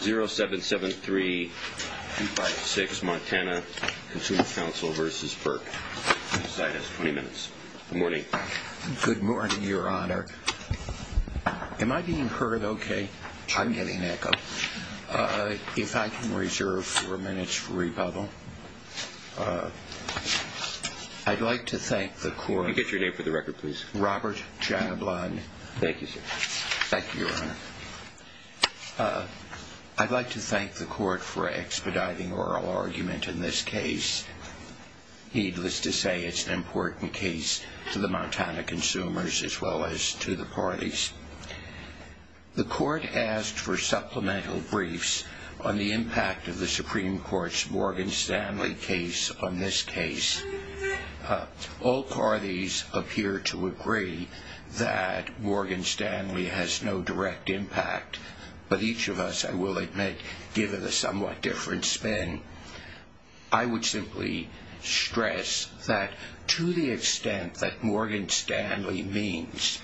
0773-256 Montana Consumer Csl v. FERC This site has 20 minutes. Good morning. Good morning, Your Honor. Am I being heard okay? I'm getting an echo. If I can reserve 4 minutes for rebuttal. I'd like to thank the court. Could you get your name for the record, please? Robert Chablon. Thank you, sir. Thank you, Your Honor. I'd like to thank the court for expediting oral argument in this case. Needless to say, it's an important case to the Montana consumers as well as to the parties. The court asked for supplemental briefs on the impact of the Supreme Court's Morgan Stanley case on this case. All parties appear to agree that Morgan Stanley has no direct impact. But each of us, I will admit, give it a somewhat different spin. I would simply stress that to the extent that Morgan Stanley means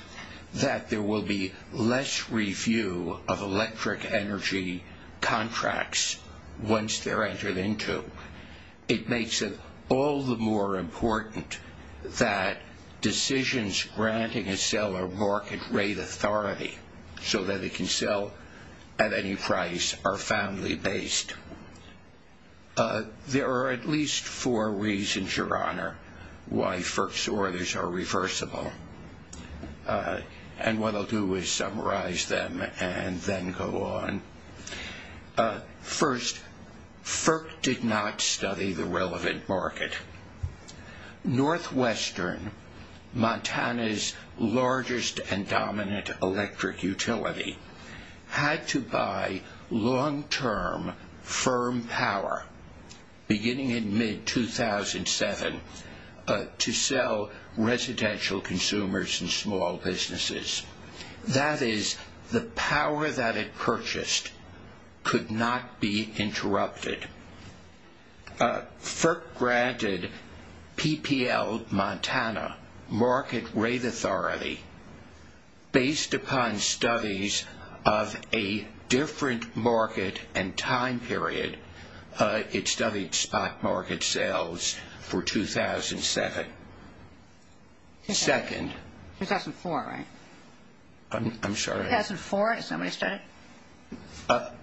that there will be less review of electric energy contracts once they're entered into, it makes it all the more important that decisions granting a seller market rate authority so that it can sell at any price are family-based. There are at least four reasons, Your Honor, why FERC's orders are reversible. And what I'll do is summarize them and then go on. First, FERC did not study the relevant market. Northwestern, Montana's largest and dominant electric utility, had to buy long-term firm power beginning in mid-2007 to sell residential consumers and small businesses. That is, the power that it purchased could not be interrupted. FERC granted PPL Montana market rate authority based upon studies of a different market and time period. It studied spot market sales for 2007. Second... 2004, right? I'm sorry? 2004, is that what they studied?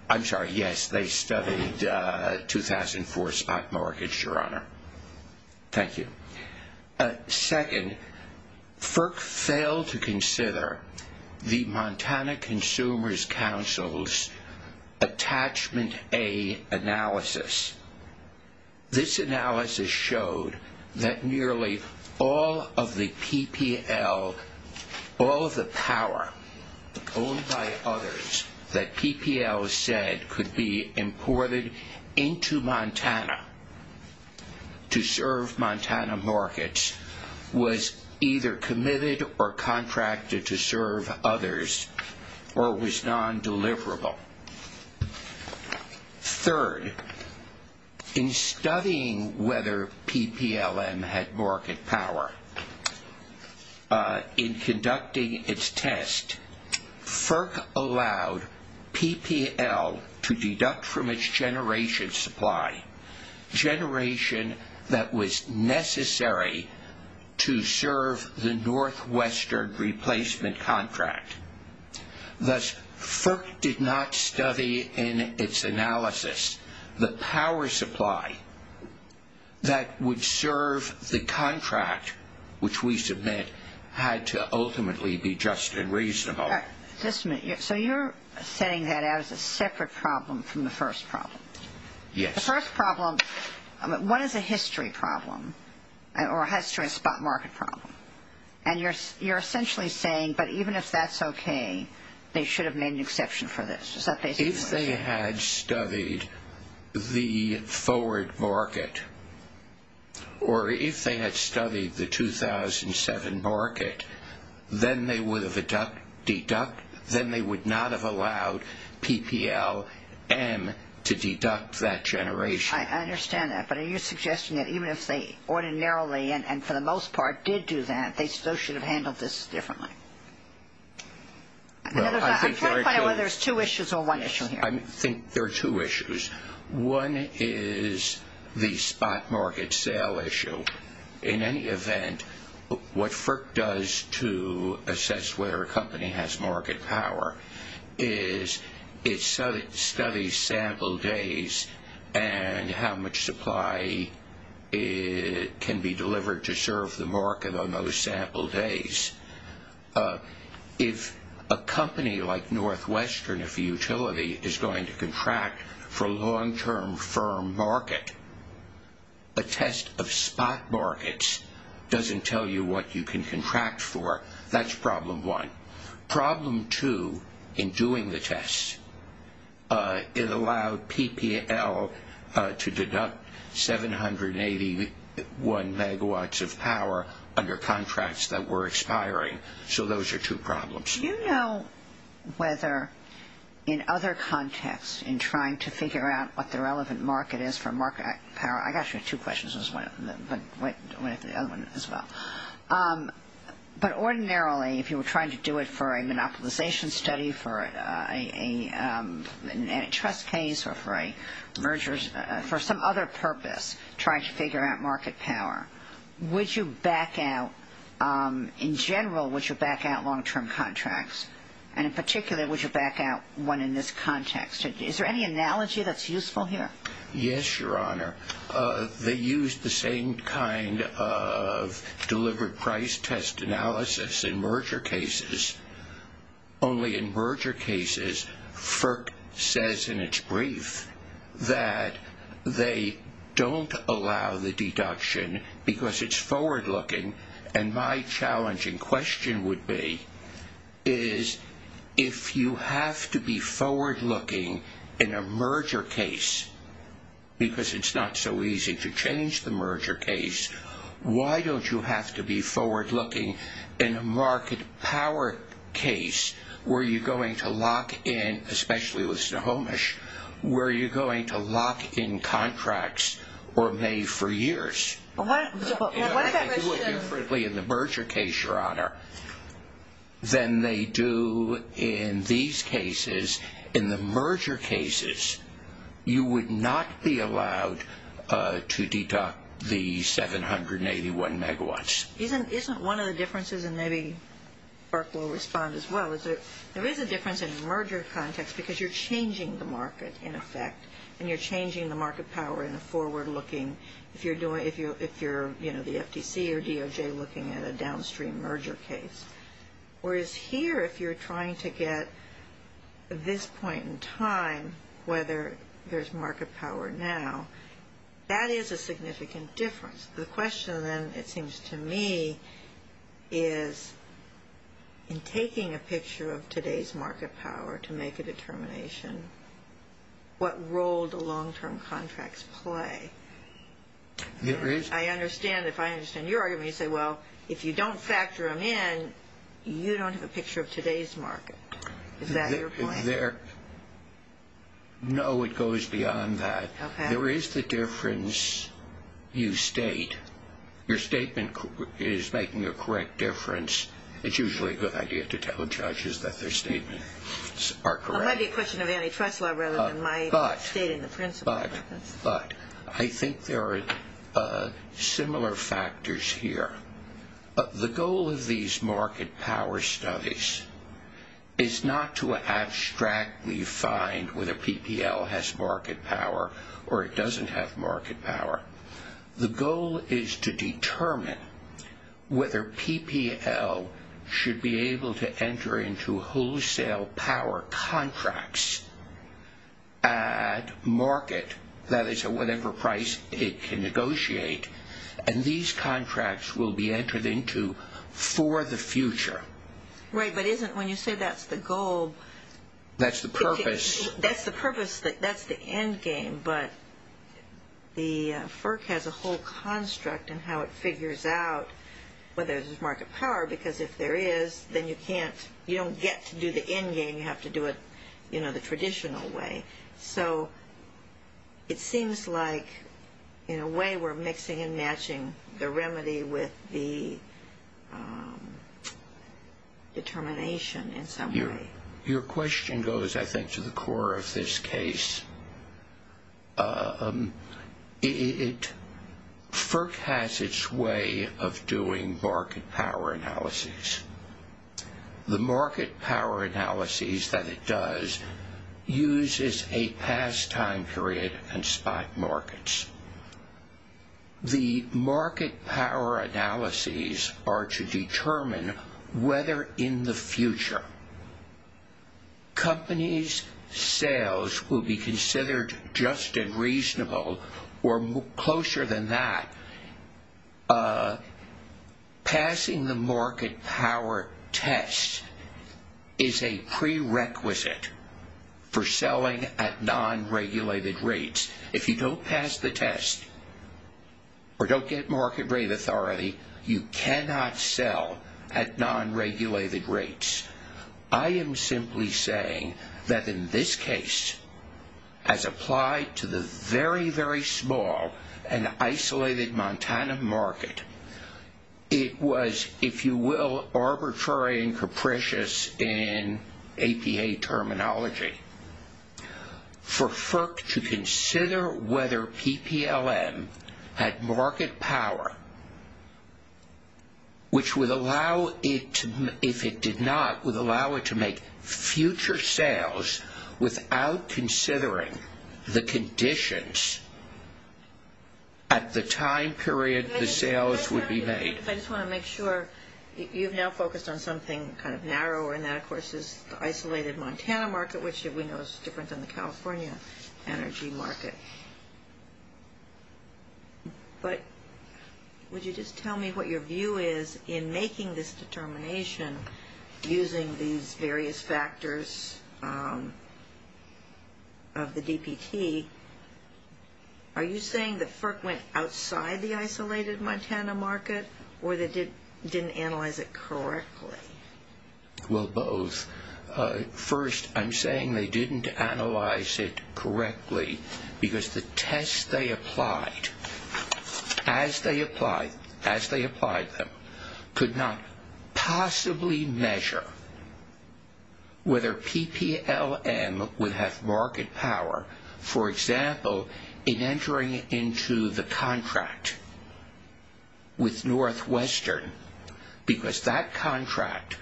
I'm sorry, yes, they studied 2004 spot mortgage, Your Honor. Thank you. Second, FERC failed to consider the Montana Consumers Council's Attachment A analysis. This analysis showed that nearly all of the PPL, all of the power owned by others that PPL said could be imported into Montana to serve Montana markets, was either committed or contracted to serve others, or was non-deliverable. Third, in studying whether PPLM had market power, in conducting its test, FERC allowed PPL to deduct from its generation supply generation that was necessary to serve the Northwestern replacement contract. Thus, FERC did not study in its analysis the power supply that would serve the contract which we submit had to ultimately be just and reasonable. Just a minute. So you're setting that out as a separate problem from the first problem? Yes. One is a history problem, or a history of spot market problem. And you're essentially saying, but even if that's okay, they should have made an exception for this. If they had studied the forward market, or if they had studied the 2007 market, then they would have deducted, then they would not have allowed PPLM to deduct that generation. I understand that. But are you suggesting that even if they ordinarily, and for the most part, did do that, they still should have handled this differently? I'm trying to find out whether there's two issues or one issue here. I think there are two issues. One is the spot market sale issue. In any event, what FERC does to assess whether a company has market power is it studies sample days and how much supply can be delivered to serve the market on those sample days. If a company like Northwestern, if a utility, is going to contract for a long-term firm market, a test of spot markets doesn't tell you what you can contract for. That's problem one. Problem two, in doing the tests, it allowed PPL to deduct 781 megawatts of power under contracts that were expiring. So those are two problems. Do you know whether in other contexts, in trying to figure out what the relevant market is for market power, I actually have two questions. But ordinarily, if you were trying to do it for a monopolization study, for a trust case, or for some other purpose, trying to figure out market power, would you back out, in general, would you back out long-term contracts? And in particular, would you back out one in this context? Is there any analogy that's useful here? Yes, Your Honor. They use the same kind of delivered price test analysis in merger cases. Only in merger cases, FERC says in its brief that they don't allow the deduction because it's forward-looking. And my challenging question would be, is if you have to be forward-looking in a merger case, because it's not so easy to change the merger case, why don't you have to be forward-looking in a market power case where you're going to lock in, especially with Snohomish, where you're going to lock in contracts or may for years? I do it differently in the merger case, Your Honor, than they do in these cases. In the merger cases, you would not be allowed to deduct the 781 megawatts. Isn't one of the differences, and maybe FERC will respond as well, is there is a difference in the merger context because you're changing the market, in effect, and you're changing the market power in the forward-looking, if you're the FTC or DOJ looking at a downstream merger case. Whereas here, if you're trying to get this point in time, whether there's market power now, that is a significant difference. The question then, it seems to me, is in taking a picture of today's market power to make a determination, what role do long-term contracts play? I understand, if I understand your argument, you say, well, if you don't factor them in, you don't have a picture of today's market. Is that your point? No, it goes beyond that. There is the difference you state. Your statement is making a correct difference. It's usually a good idea to tell judges that their statements are correct. It might be a question of antitrust law rather than my stating the principle. I think there are similar factors here. The goal of these market power studies is not to abstractly find whether PPL has market power or it doesn't have market power. The goal is to determine whether PPL should be able to enter into wholesale power contracts at market, that is, at whatever price it can negotiate. These contracts will be entered into for the future. Right, but when you say that's the goal... That's the purpose. That's the purpose, that's the end game, but the FERC has a whole construct in how it figures out whether there's market power, because if there is, then you don't get to do the end game, you have to do it the traditional way. It seems like, in a way, we're mixing and matching the remedy with the determination in some way. Your question goes, I think, to the core of this case. FERC has its way of doing market power analyses. The market power analyses that it does uses a past time period and spot markets. The market power analyses are to determine whether in the future companies' sales will be considered just and reasonable or closer than that. Passing the market power test is a prerequisite for selling at non-regulated rates. If you don't pass the test or don't get market rate authority, you cannot sell at non-regulated rates. I am simply saying that in this case, as applied to the very, very small and isolated Montana market, it was, if you will, arbitrary and capricious in APA terminology. For FERC to consider whether PPLM had market power, which would allow it, if it did not, would allow it to make future sales without considering the conditions at the time period the sales would be made. I just want to make sure, you've now focused on something kind of narrower, and that, of course, is the isolated Montana market, which we know is different than the California energy market. But would you just tell me what your view is in making this determination using these various factors of the DPT? Are you saying that FERC went outside the isolated Montana market, or they didn't analyze it correctly? Well, both. First, I'm saying they didn't analyze it correctly because the test they applied, as they applied them, could not possibly measure whether PPLM would have market power. For example, in entering into the contract with Northwestern, because that contract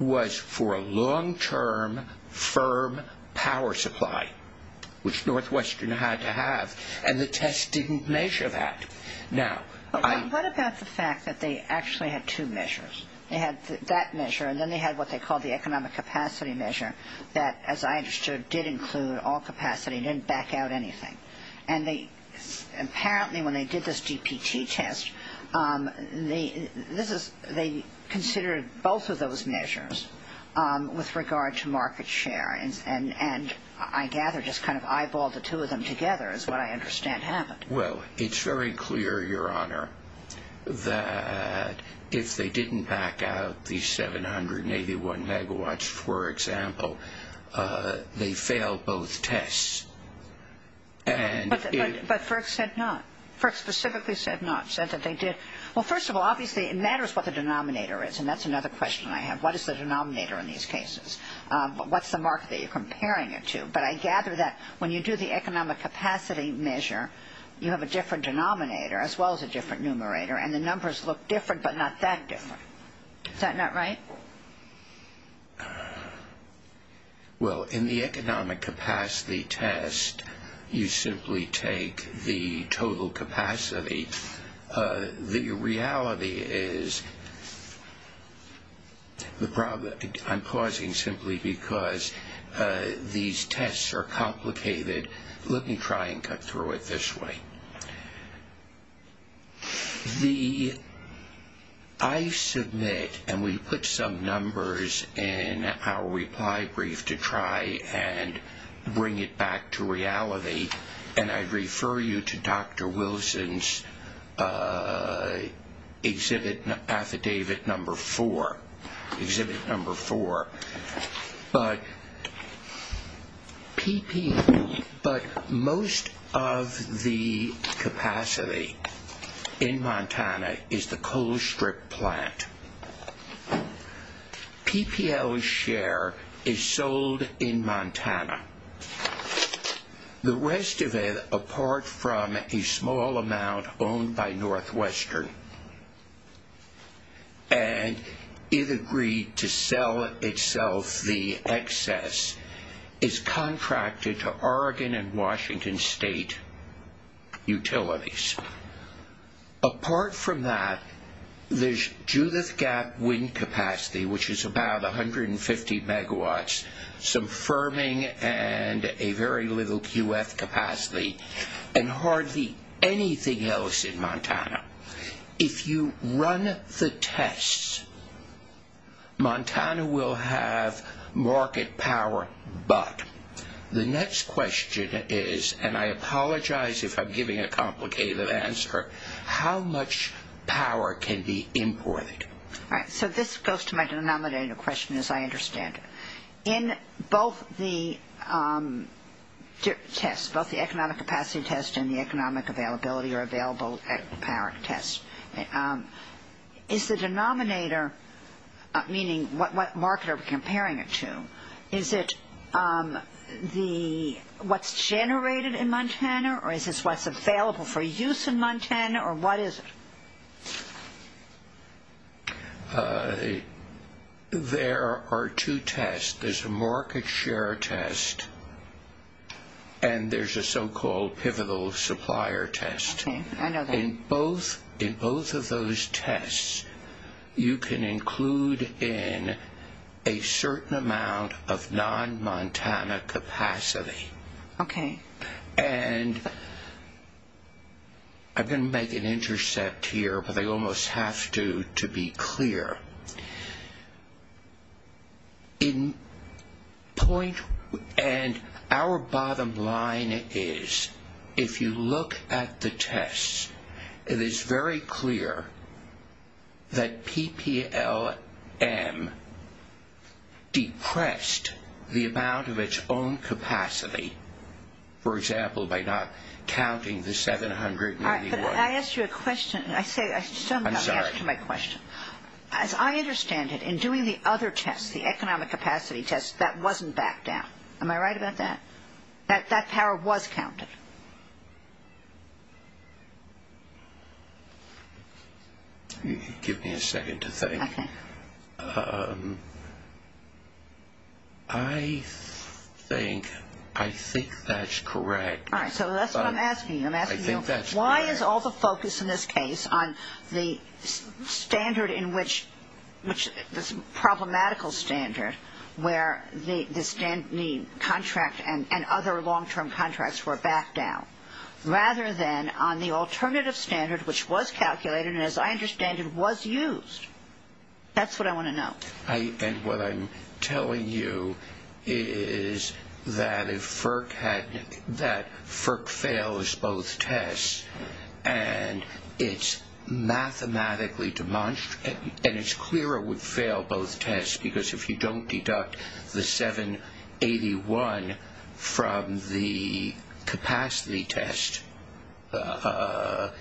was for a long-term, firm power supply, which Northwestern had to have, and the test didn't measure that. What about the fact that they actually had two measures? They had that measure, and then they had what they called the economic capacity measure, that, as I understood, did include all capacity and didn't back out anything. Apparently, when they did this DPT test, they considered both of those measures with regard to market share, and I gather just kind of eyeballed the two of them together is what I understand happened. Well, it's very clear, Your Honor, that if they didn't back out the 781 megawatts, for example, they failed both tests. But FERC said not. FERC specifically said not. Well, first of all, obviously, it matters what the denominator is, and that's another question I have. What is the denominator in these cases? What's the market that you're comparing it to? But I gather that when you do the economic capacity measure, you have a different denominator as well as a different numerator, and the numbers look different but not that different. Is that not right? Well, in the economic capacity test, you simply take the total capacity. The reality is the problem I'm causing simply because these tests are complicated. Let me try and cut through it this way. I submit, and we put some numbers in our reply brief to try and bring it back to reality, and I refer you to Dr. Wilson's exhibit affidavit number four. Exhibit number four. But most of the capacity in Montana is the coal strip plant. PPL's share is sold in Montana. The rest of it, apart from a small amount owned by Northwestern, and it agreed to sell itself the excess, is contracted to Oregon and Washington state utilities. Apart from that, there's Judith Gap wind capacity, which is about 150 megawatts, some firming, and a very little QF capacity, and hardly anything else in Montana. If you run the tests, Montana will have market power, but. The next question is, and I apologize if I'm giving a complicated answer, how much power can be imported? So this goes to my denominator question, as I understand it. In both the tests, both the economic capacity test and the economic availability or available power test, is the denominator, meaning what market are we comparing it to, is it what's generated in Montana, or is it what's available for use in Montana, or what is it? There are two tests. There's a market share test, and there's a so-called pivotal supplier test. In both of those tests, you can include in a certain amount of non-Montana capacity. And I'm going to make an intercept here, but they almost have to, to be clear. In point, and our bottom line is, if you look at the tests, it is very clear that PPLM depressed the amount of its own capacity, for example, by not counting the 781. I asked you a question, I say, I'm sorry, I asked you my question. As I understand it, in doing the other tests, the economic capacity test, that wasn't backed down. Am I right about that? That power was counted. Give me a second to think. I think that's correct. All right, so that's what I'm asking you. I think that's correct. Why is all the focus in this case on the standard in which, the problematical standard, where the contract and other long-term contracts were backed down, rather than on the alternative standard, which was calculated, and as I understand it, was used? That's what I want to know. What I'm telling you is that if FERC had, that FERC fails both tests, and it's mathematically demonstrable, and it's clear it would fail both tests, because if you don't deduct the 781 from the capacity test, that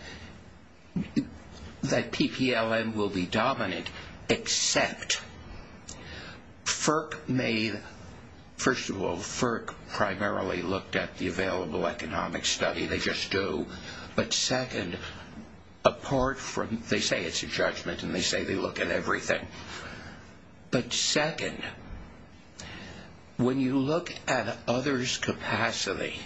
PPLM will be dominant, except, FERC made, first of all, FERC primarily looked at the available economic study, they just do, but second, apart from, they say it's a judgment, and they say they look at everything, but second, when you look at others' capacity,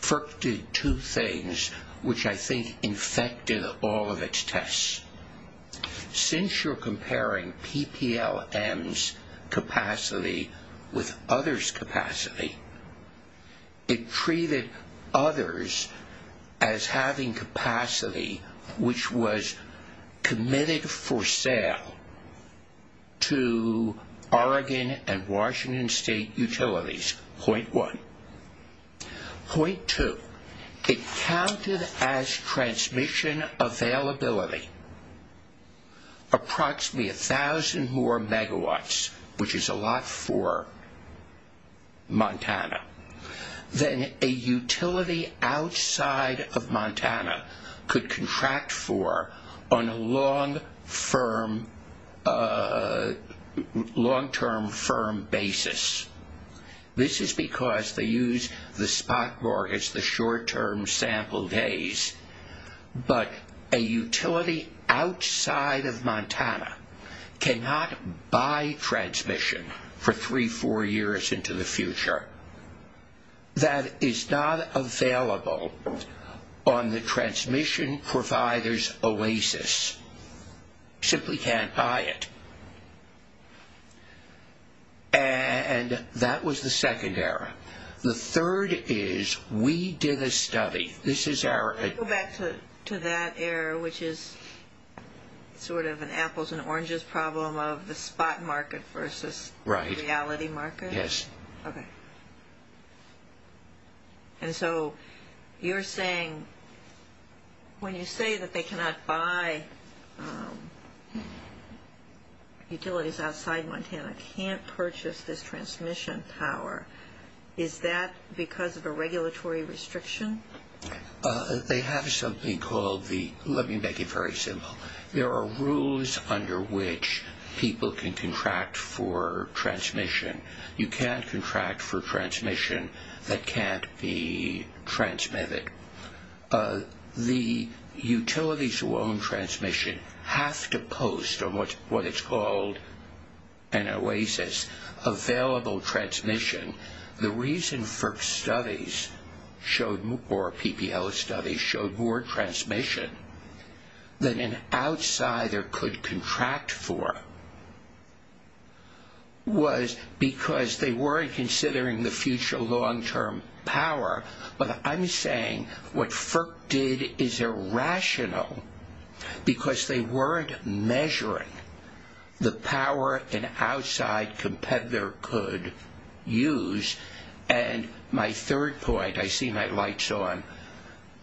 FERC did two things which I think infected all of its tests. Since you're comparing PPLM's capacity with others' capacity, it treated others as having capacity which was committed for sale to Oregon and Washington State utilities, point one. Point two, it counted as transmission availability approximately a thousand more megawatts, which is a lot for Montana, than a utility outside of Montana could contract for on a long-term, firm basis. This is because they use the spot markets, the short-term sample days, but a utility outside of Montana cannot buy transmission for three, four years into the future. That is not available on the transmission provider's oasis, simply can't buy it. And that was the second error. The third is, we did a study, this is our... Can I go back to that error, which is sort of an apples and oranges problem of the spot market versus reality market? Yes. Okay. And so you're saying, when you say that they cannot buy utilities outside Montana, can't purchase this transmission power, is that because of a regulatory restriction? They have something called the, let me make it very simple, there are rules under which people can contract for transmission. They can't contract for transmission that can't be transmitted. The utilities who own transmission have to post on what is called an oasis, available transmission. The reason for studies, or PPL studies, showed more transmission than an outsider could contract for, was because they weren't considering the future long-term power. But I'm saying what FERC did is irrational, because they weren't measuring the power an outside competitor could use. And my third point, I see my lights on,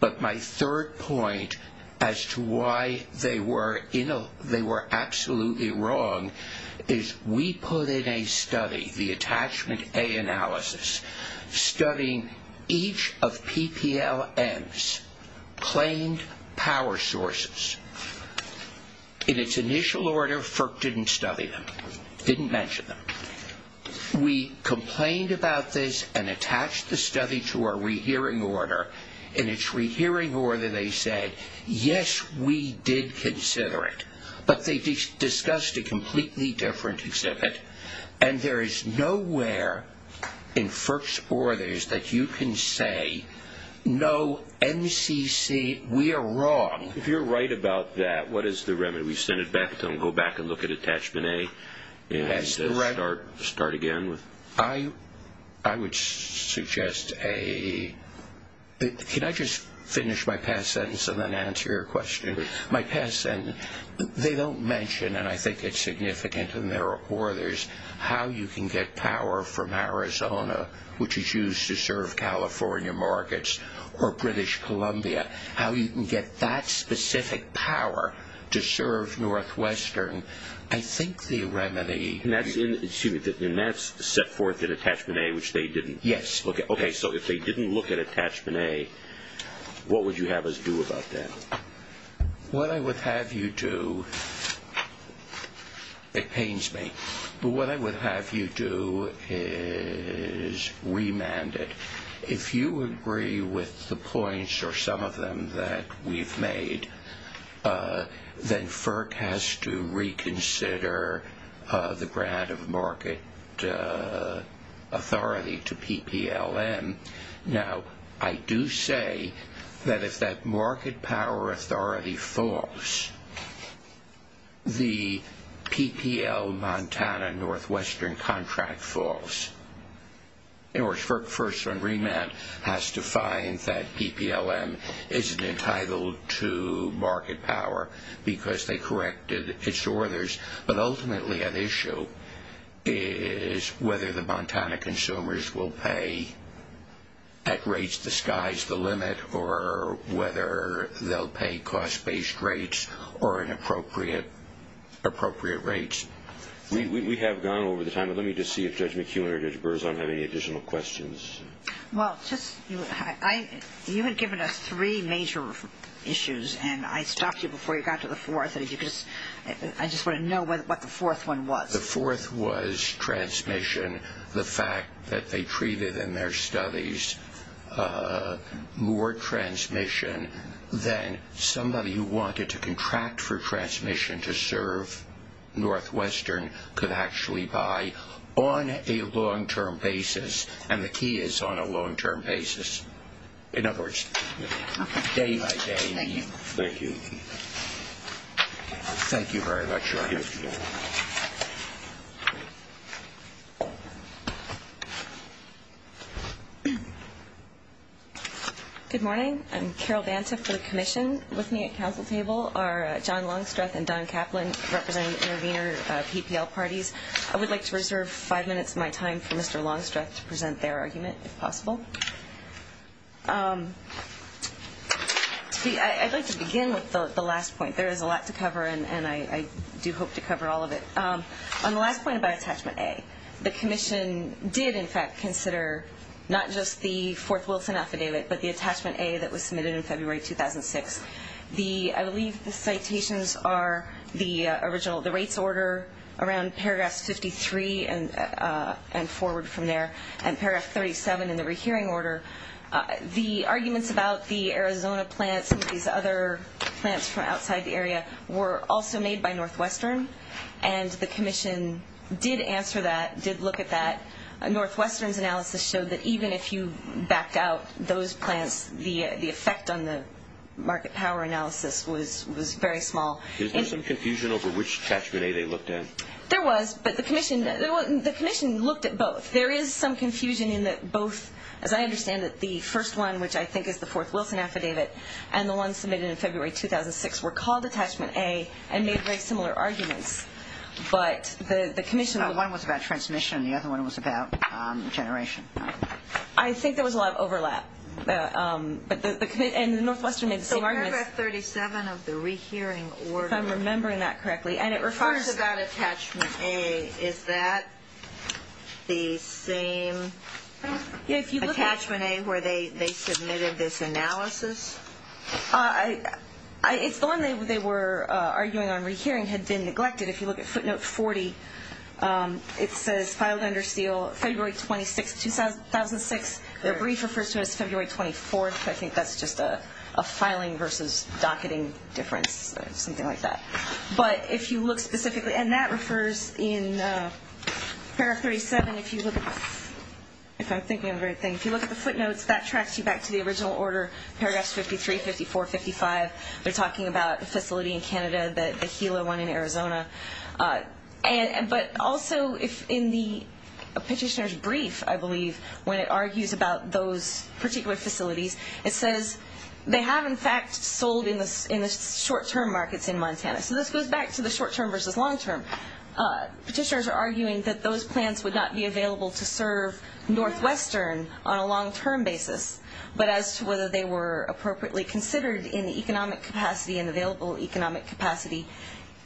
but my third point as to why they were absolutely wrong, is we put in a study, the attachment A analysis, studying each of PPLM's claimed power sources. In its initial order, FERC didn't study them, didn't mention them. We complained about this and attached the study to our rehearing order. In its rehearing order, they said, yes, we did consider it. But they discussed a completely different exhibit. And there is nowhere in FERC's orders that you can say, no, NCC, we are wrong. If you're right about that, what is the remedy? Do we send it back to them, go back and look at attachment A, and start again? I would suggest a, can I just finish my past sentence and then answer your question? My past sentence, they don't mention, and I think it's significant in their orders, how you can get power from Arizona, which is used to serve California markets, or British Columbia. How you can get that specific power to serve Northwestern. I think the remedy... And that's set forth in attachment A, which they didn't... Yes. Okay, so if they didn't look at attachment A, what would you have us do about that? What I would have you do, it pains me, but what I would have you do is remand it. If you agree with the points, or some of them that we've made, then FERC has to reconsider the grant of market authority to PPLM. Now, I do say that if that market power authority falls, the PPL Montana Northwestern contract falls. In other words, FERC first on remand has to find that PPLM isn't entitled to market power, because they corrected its orders. But ultimately, an issue is whether the Montana consumers will pay at rates the sky's the limit, or whether they'll pay cost-based rates, or inappropriate rates. We have gone over the time, but let me just see if Judge McEwen or Judge Berzon have any additional questions. Well, you had given us three major issues, and I stopped you before you got to the fourth. I just want to know what the fourth one was. The fourth was transmission. The fact that they treated in their studies more transmission than somebody who wanted to contract for transmission to serve Northwestern could actually buy on a long-term basis, and the key is on a long-term basis. In other words, day by day. Thank you. Thank you very much, Your Honor. Thank you. Good morning. I'm Carol Banta for the commission. With me at council table are John Longstreth and Don Kaplan, representing intervener PPL parties. I would like to reserve five minutes of my time for Mr. Longstreth to present their argument, if possible. I'd like to begin with the last point. There is a lot to cover, and I do hope to cover all of it. On the last point about attachment A, the commission did, in fact, consider not just the fourth Wilson affidavit, but the attachment A that was submitted in February 2006. I believe the citations are the rates order around paragraphs 53 and forward from there, and paragraph 37 in the rehearing order. The arguments about the Arizona plants and these other plants from outside the area were also made by Northwestern, and the commission did answer that, did look at that. Northwestern's analysis showed that even if you backed out those plants, the effect on the market power analysis was very small. Is there some confusion over which attachment A they looked at? There was, but the commission looked at both. There is some confusion in that both, as I understand it, the first one, which I think is the fourth Wilson affidavit, and the one submitted in February 2006 were called attachment A and made very similar arguments, but the commission... One was about transmission, and the other one was about generation. I think there was a lot of overlap, and Northwestern made the same arguments. So paragraph 37 of the rehearing order... If I'm remembering that correctly, and it refers... It's the same attachment A where they submitted this analysis? It's the one they were arguing on rehearing had been neglected. If you look at footnote 40, it says filed under seal February 26, 2006. Their brief refers to it as February 24th. I think that's just a filing versus docketing difference, something like that. But if you look specifically... And that refers in paragraph 37, if you look at... If I'm thinking of the right thing. If you look at the footnotes, that tracks you back to the original order, paragraph 53, 54, 55. They're talking about a facility in Canada, the Gila one in Arizona. But also in the petitioner's brief, I believe, when it argues about those particular facilities, it says they have, in fact, sold in the short-term markets in Montana. So this goes back to the short-term versus long-term. Petitioners are arguing that those plans would not be available to serve Northwestern on a long-term basis. But as to whether they were appropriately considered in the economic capacity and available economic capacity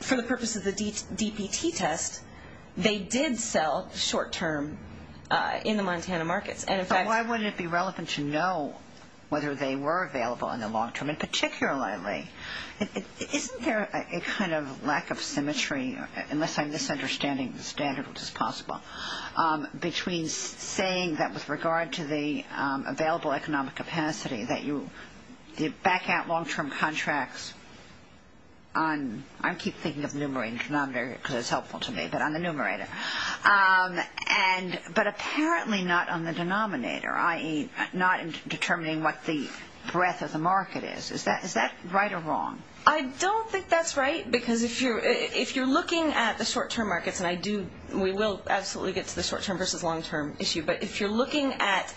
for the purpose of the DPT test, they did sell short-term in the Montana markets. But why wouldn't it be relevant to know whether they were available in the long-term? And particularly, isn't there a kind of lack of symmetry, unless I'm misunderstanding the standard, which is possible, between saying that with regard to the available economic capacity that you back out long-term contracts on... I keep thinking of the numerator and denominator because it's helpful to me, but on the numerator. But apparently not on the denominator, i.e. not in determining what the breadth of the market is. Is that right or wrong? I don't think that's right, because if you're looking at the short-term markets, and we will absolutely get to the short-term versus long-term issue, but if you're looking at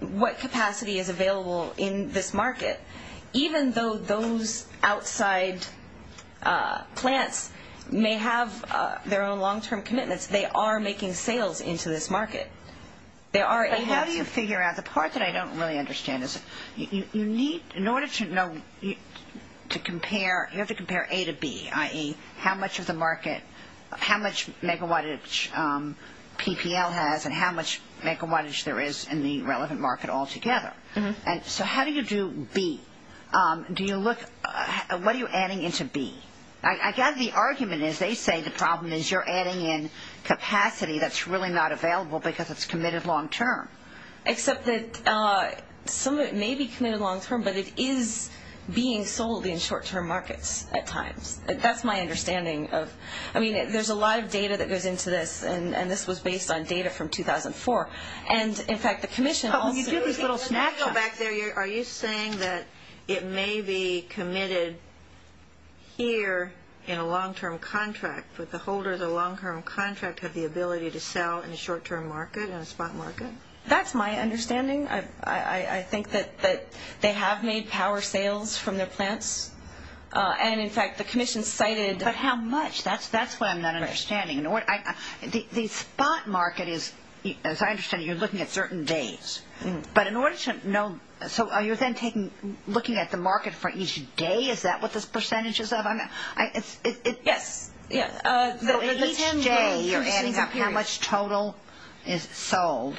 what capacity is available in this market, even though those outside plants may have their own long-term commitments, they are making sales into this market. How do you figure out? The part that I don't really understand is you have to compare A to B, i.e. how much megawattage PPL has and how much megawattage there is in the relevant market altogether. So how do you do B? What are you adding into B? I gather the argument is they say the problem is you're adding in capacity that's really not available because it's committed long-term. Except that some of it may be committed long-term, but it is being sold in short-term markets at times. That's my understanding. I mean, there's a lot of data that goes into this, and this was based on data from 2004. In fact, the Commission also... Are you saying that it may be committed here in a long-term contract, but the holder of the long-term contract have the ability to sell in a short-term market, in a spot market? That's my understanding. I think that they have made power sales from their plants. And in fact, the Commission cited... But how much? That's what I'm not understanding. The spot market is, as I understand it, you're looking at certain days. But in order to know... So you're then looking at the market for each day? Is that what this percentage is of? Yes. So each day, you're adding up how much total is sold,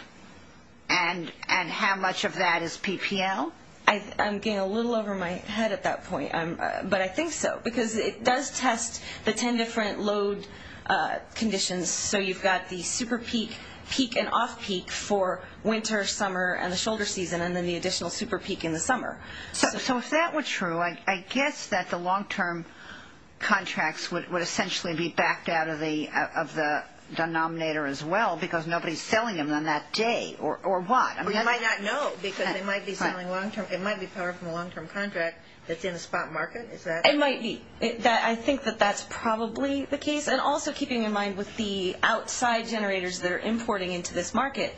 and how much of that is PPL? I'm getting a little over my head at that point, but I think so, because it does test the 10 different load conditions. So you've got the super peak, peak and off peak for winter, summer, and the shoulder season, and then the additional super peak in the summer. So if that were true, I guess that the long-term contracts would essentially be backed out of the denominator as well, because nobody's selling them on that day, or what? You might not know, because it might be power from a long-term contract that's in a spot market, is that... It might be. I think that that's probably the case. And also keeping in mind with the outside generators that are importing into this market,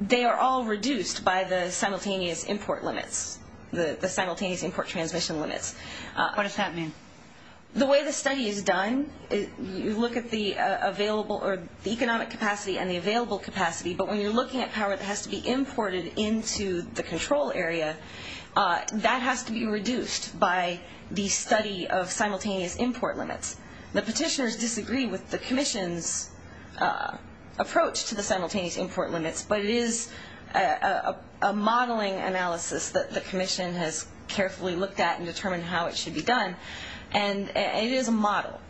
they are all reduced by the simultaneous import limits, the simultaneous import transmission limits. What does that mean? The way the study is done, you look at the economic capacity and the available capacity, but when you're looking at power that has to be imported into the control area, that has to be reduced by the study of simultaneous import limits. The petitioners disagree with the Commission's approach but it is a modeling analysis that the Commission has carefully looked at and determined how it should be done. And it is a model.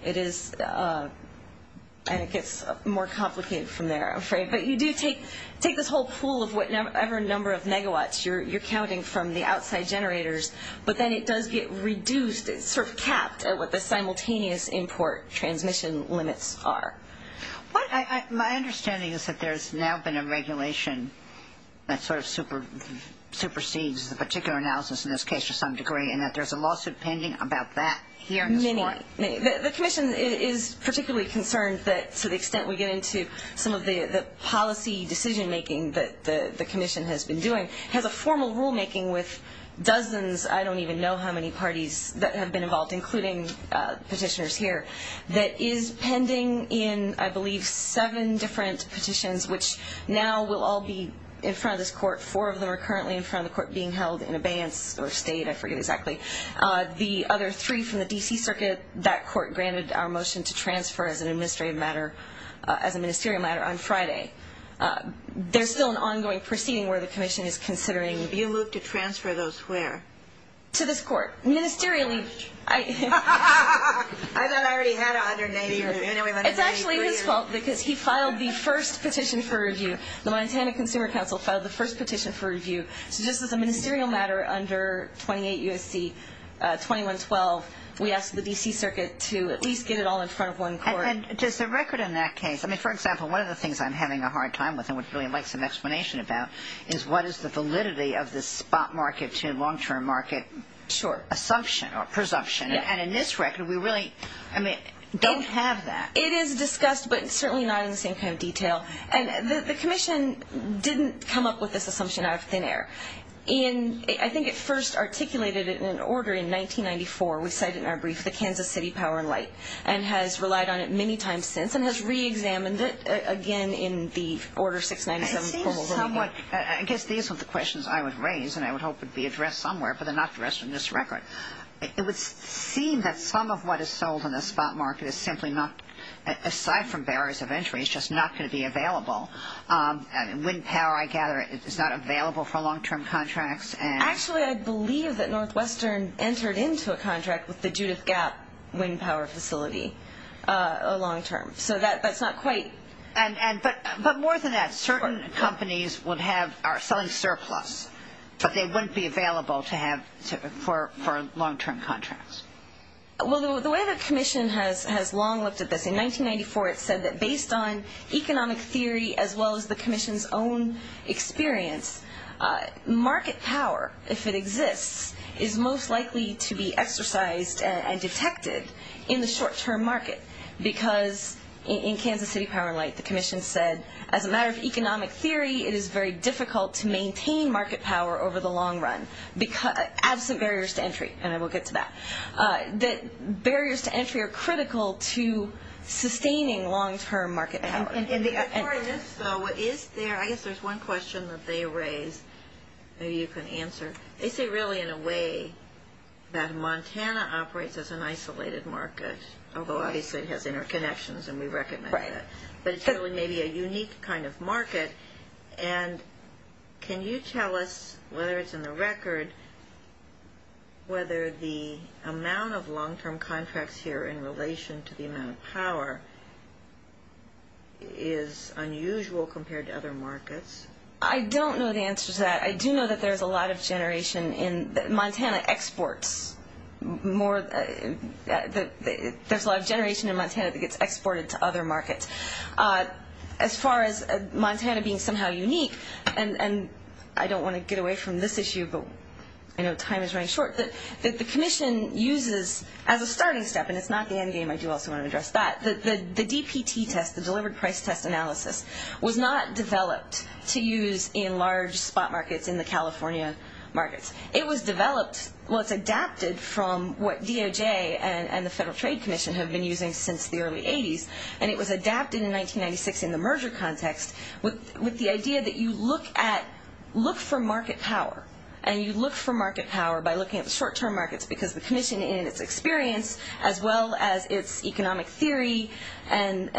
And it gets more complicated from there, I'm afraid. But you do take this whole pool of whatever number of megawatts you're counting from the outside generators, but then it does get reduced, it's sort of capped at what the simultaneous import transmission limits are. My understanding is that there's now been a regulation that sort of supersedes the particular analysis in this case to some degree, and that there's a lawsuit pending about that here at this point. Many. The Commission is particularly concerned that, to the extent we get into some of the policy decision-making that the Commission has been doing, has a formal rulemaking with dozens, I don't even know how many parties that have been involved, including petitioners here, that is pending in, I believe, seven different petitions, which now will all be in front of this Court. Four of them are currently in front of the Court being held in abeyance, or stayed, I forget exactly. The other three from the D.C. Circuit, that Court granted our motion to transfer as an administrative matter, as a ministerial matter, on Friday. There's still an ongoing proceeding where the Commission is considering... Do you move to transfer those where? To this Court. Ministerially... I thought I already had 190. It's actually his fault, because he filed the first petition for review. The Montana Consumer Council filed the first petition for review. So just as a ministerial matter under 28 U.S.C. 2112, we asked the D.C. Circuit to at least get it all in front of one Court. And does the record in that case... I mean, for example, one of the things I'm having a hard time with, and would really like some explanation about, is what is the validity of this spot market to long-term market assumption, or presumption. And in this record, we really don't have that. It is discussed, but certainly not in the same kind of detail. And the Commission didn't come up with this assumption out of thin air. I think it first articulated it in an order in 1994. We cite it in our brief, the Kansas City Power and Light, and has relied on it many times since, and has re-examined it again in the Order 697. I guess these are the questions I would raise, and I would hope would be addressed somewhere, but they're not addressed in this record. It would seem that some of what is sold aside from barriers of entry is just not going to be available. Wind power, I gather, is not available for long-term contracts. Actually, I believe that Northwestern entered into a contract with the Judith Gap wind power facility long-term. So that's not quite... But more than that, certain companies are selling surplus, but they wouldn't be available for long-term contracts. Well, the way the Commission has long looked at this, in 1994 it said that based on economic theory as well as the Commission's own experience, market power, if it exists, is most likely to be exercised and detected in the short-term market because, in Kansas City Power and Light, the Commission said, as a matter of economic theory, it is very difficult to maintain market power over the long run, absent barriers to entry, and I will get to that, that barriers to entry are critical to sustaining long-term market power. I guess there's one question that they raise that you can answer. Is it really in a way that Montana operates as an isolated market, although obviously it has interconnections and we recommend that, but it's really maybe a unique kind of market, and can you tell us whether the amount of long-term contracts here in relation to the amount of power is unusual compared to other markets? I don't know the answer to that. I do know that there's a lot of generation in Montana exports, more, there's a lot of generation in Montana that gets exported to other markets. As far as Montana being somehow unique, and I don't want to get away from this issue, but I know time is running short, that the commission uses as a starting step, and it's not the end game, I do also want to address that, the DPT test, the Delivered Price Test Analysis, was not developed to use in large spot markets in the California markets. It was developed, well, it's adapted from what DOJ and the Federal Trade Commission have been using since the early 80s, and it was adapted in 1996 and you look for market power by looking at the short-term markets because the commission in its experience, as well as its economic theory and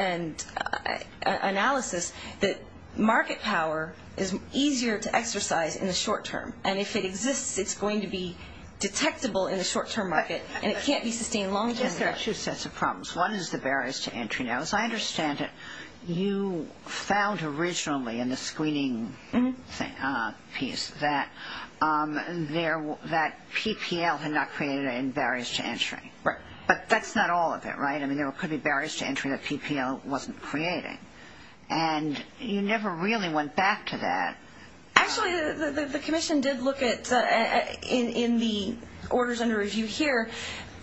analysis, that market power is easier to exercise in the short-term, and if it exists, it's going to be detectable in the short-term market, and it can't be sustained long-term. Yes, there are two sets of problems. One is the barriers to entry. Now, as I understand it, there that PPL had not created in barriers to entry. Right. But that's not all of it, right? I mean, there could be barriers to entry that PPL wasn't creating, and you never really went back to that. Actually, the commission did look at, in the orders under review here,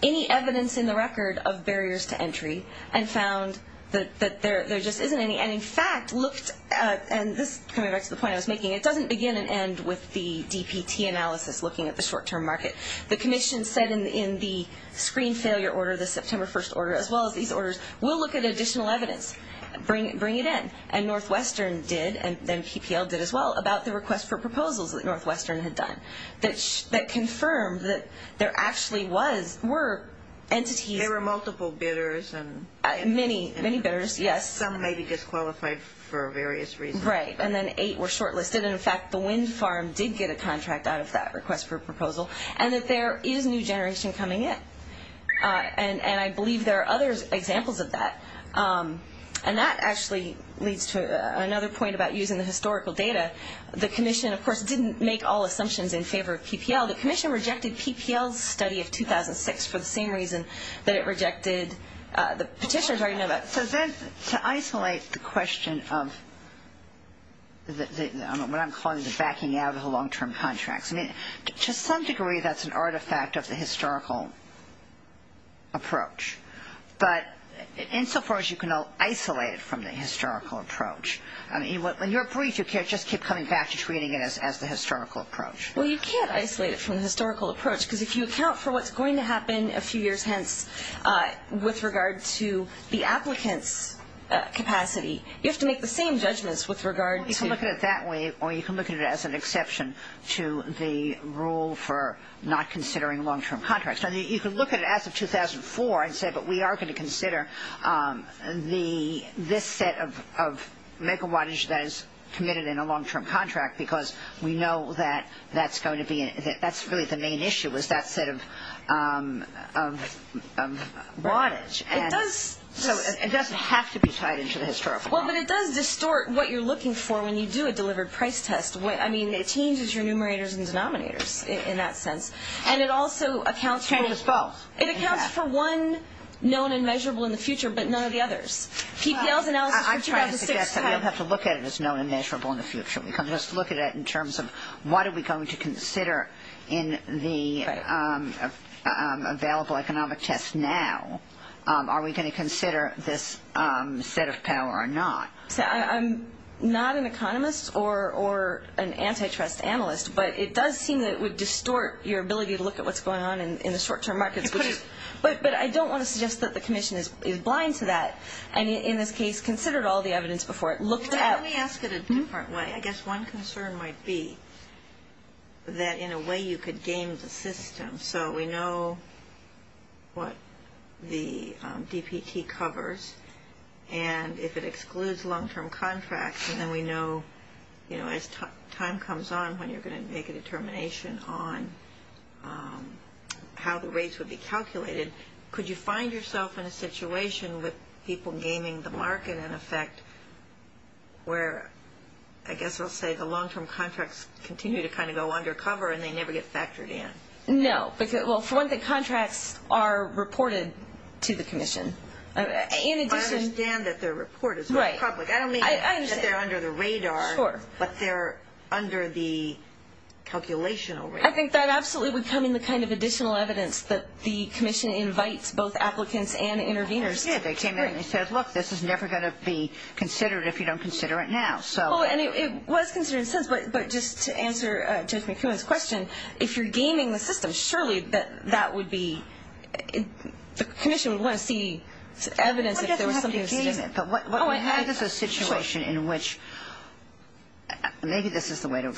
any evidence in the record of barriers to entry and found that there just isn't any, and in fact looked, and this is coming back to the point I was making, in the analysis looking at the short-term market, the commission said in the screen failure order, the September 1st order, as well as these orders, we'll look at additional evidence, bring it in, and Northwestern did, and then PPL did as well, about the request for proposals that Northwestern had done that confirmed that there actually were entities. There were multiple bidders. Many bidders, yes. Some maybe disqualified for various reasons. That request for a proposal, and that there is new generation coming in, and I believe there are other examples of that, and that actually leads to another point about using the historical data. The commission, of course, didn't make all assumptions in favor of PPL. The commission rejected PPL's study of 2006 for the same reason that it rejected the petitioners already know about. So to isolate the question of what I'm calling the backing out of the long-term contracts, I mean, to some degree, that's an artifact of the historical approach. But insofar as you can isolate it from the historical approach, I mean, when you're briefed, you can't just keep coming back to treating it as the historical approach. Well, you can't isolate it from the historical approach, because if you account for what's going to happen a few years hence with regard to the applicants' capacity, you have to make the same judgments with regard to... or you can look at it as an exception to the rule for not considering long-term contracts. Now, you can look at it as of 2004 and say, but we are going to consider this set of... make a wattage that is committed in a long-term contract, because we know that that's going to be... that's really the main issue, is that set of wattage. It does... So it doesn't have to be tied into the historical model. Well, but it does distort what you're looking for when you do a delivered price test. I mean, it changes your numerators and denominators in that sense. And it also accounts for... It changes both. It accounts for one known and measurable in the future, but none of the others. I'm trying to suggest that we don't have to look at it as known and measurable in the future. We can just look at it in terms of what are we going to consider in the available economic test now. Are we going to consider this set of power or not? See, I'm not an economist or an antitrust analyst, but it does seem that it would distort your ability to look at what's going on in the short-term markets. But I don't want to suggest that the Commission is blind to that and in this case considered all the evidence before it looked at... Let me ask it a different way. I guess one concern might be that in a way you could game the system so we know what the DPT covers and if it excludes long-term contracts and then we know as time comes on when you're going to make a determination on how the rates would be calculated, could you find yourself in a situation with people gaming the market in effect where I guess I'll say the long-term contracts continue to kind of go undercover and they never get factored in? No. Well, for one thing, contracts are reported to the Commission. I understand that they're reported to the public. I don't mean that they're under the radar, but they're under the calculational radar. I think that absolutely goes back to the man-intervenors. Yeah, they came in and said, look, this is never going to be considered if you don't consider it now. It was considered in a sense, but just to answer Judge McEwen's question, if you're gaming the system, surely that would be – the Commission would want to see evidence if there was something... We have this situation in which – maybe this is going to be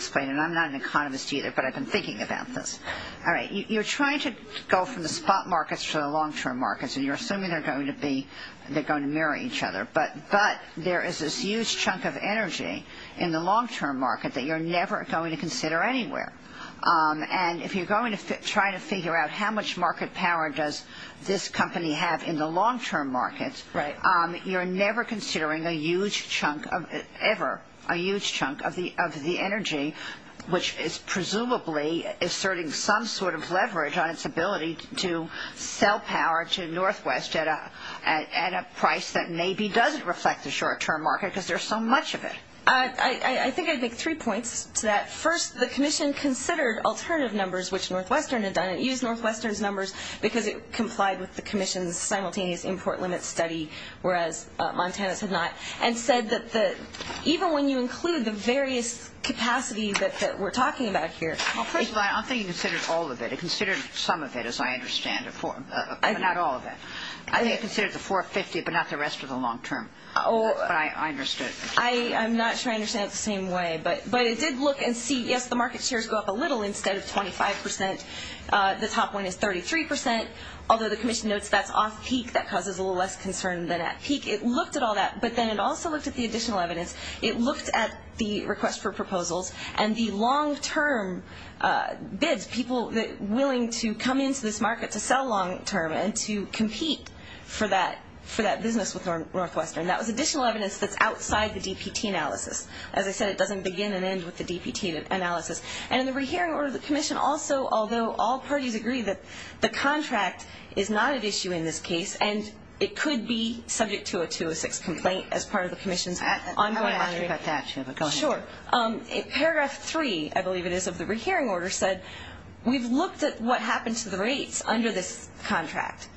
– they're going to mirror each other, but there is this huge chunk of energy in the long-term market that you're never going to consider anywhere. And if you're going to try to figure out how much market power does this company have in the long-term markets, you're never considering a huge chunk of – ever – a huge chunk of the energy, which is presumably asserting some sort of leverage on its ability to sell power to Canada at a price that maybe doesn't reflect the short-term market because there's so much of it. I think I'd make three points to that. First, the Commission considered alternative numbers, which Northwestern had done. It used Northwestern's numbers because it complied with the Commission's simultaneous import limit study, whereas Montana said not, and said that even when you include the various capacity that we're talking about here... Well, first of all, I don't think it considered all of it. It considered some of it as I understand it, but not all of it. I think it considered the 450, but not the rest of the long-term. That's what I understood. I'm not sure I understand it the same way, but it did look and see, yes, the market shares go up a little instead of 25 percent. The top one is 33 percent, although the Commission notes that's off-peak. That causes a little less concern than at peak. It looked at all that, but then it also looked at the additional evidence. It looked at the request for proposals and the long-term bids, people willing to come into this market to sell long-term and to compete for that business with Northwestern. That was additional evidence that's outside the DPT analysis. As I said, it doesn't begin and end with the DPT analysis. And in the re-hearing order of the Commission, also, although all parties agree that the contract is not at issue in this case, and it could be subject to a 206 complaint as part of the Commission's ongoing monitoring... I want to ask you about that too, but go ahead. Sure. Paragraph 3, I believe it is, of the re-hearing order said we've looked at what happened to the rates under this contract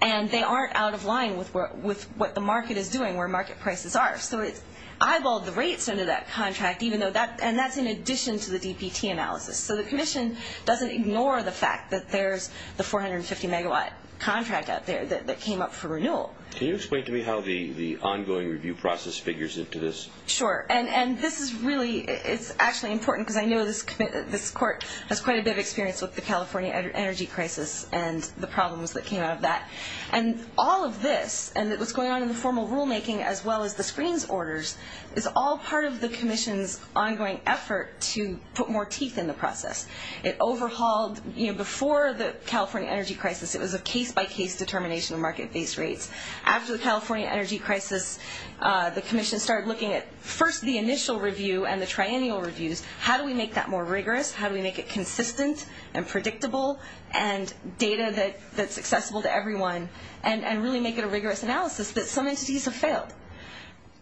and they aren't out of line with what the market is doing, where market prices are. So it eyeballed the rates under that contract and that's in addition to the DPT analysis. So the Commission doesn't ignore the fact that there's the 450 megawatt contract out there that came up for renewal. Can you explain to me how the ongoing review process figures into this? Sure. And this is really, it's actually important because I know this Court has quite a bit of experience with the California energy crisis and the problems that came out of that. And all of this and what's going on in the formal rulemaking as well as the screenings orders is all part of the Commission's ongoing effort to put more teeth in the process. It overhauled, you know, before the California energy crisis it was a case-by-case determination of market-based rates. After the California energy crisis the Commission started looking at first the initial review and the tri-annual reviews. How do we make that more rigorous? How do we make it consistent and predictable and data that's accessible to everyone and really make it a rigorous analysis that some entities have failed?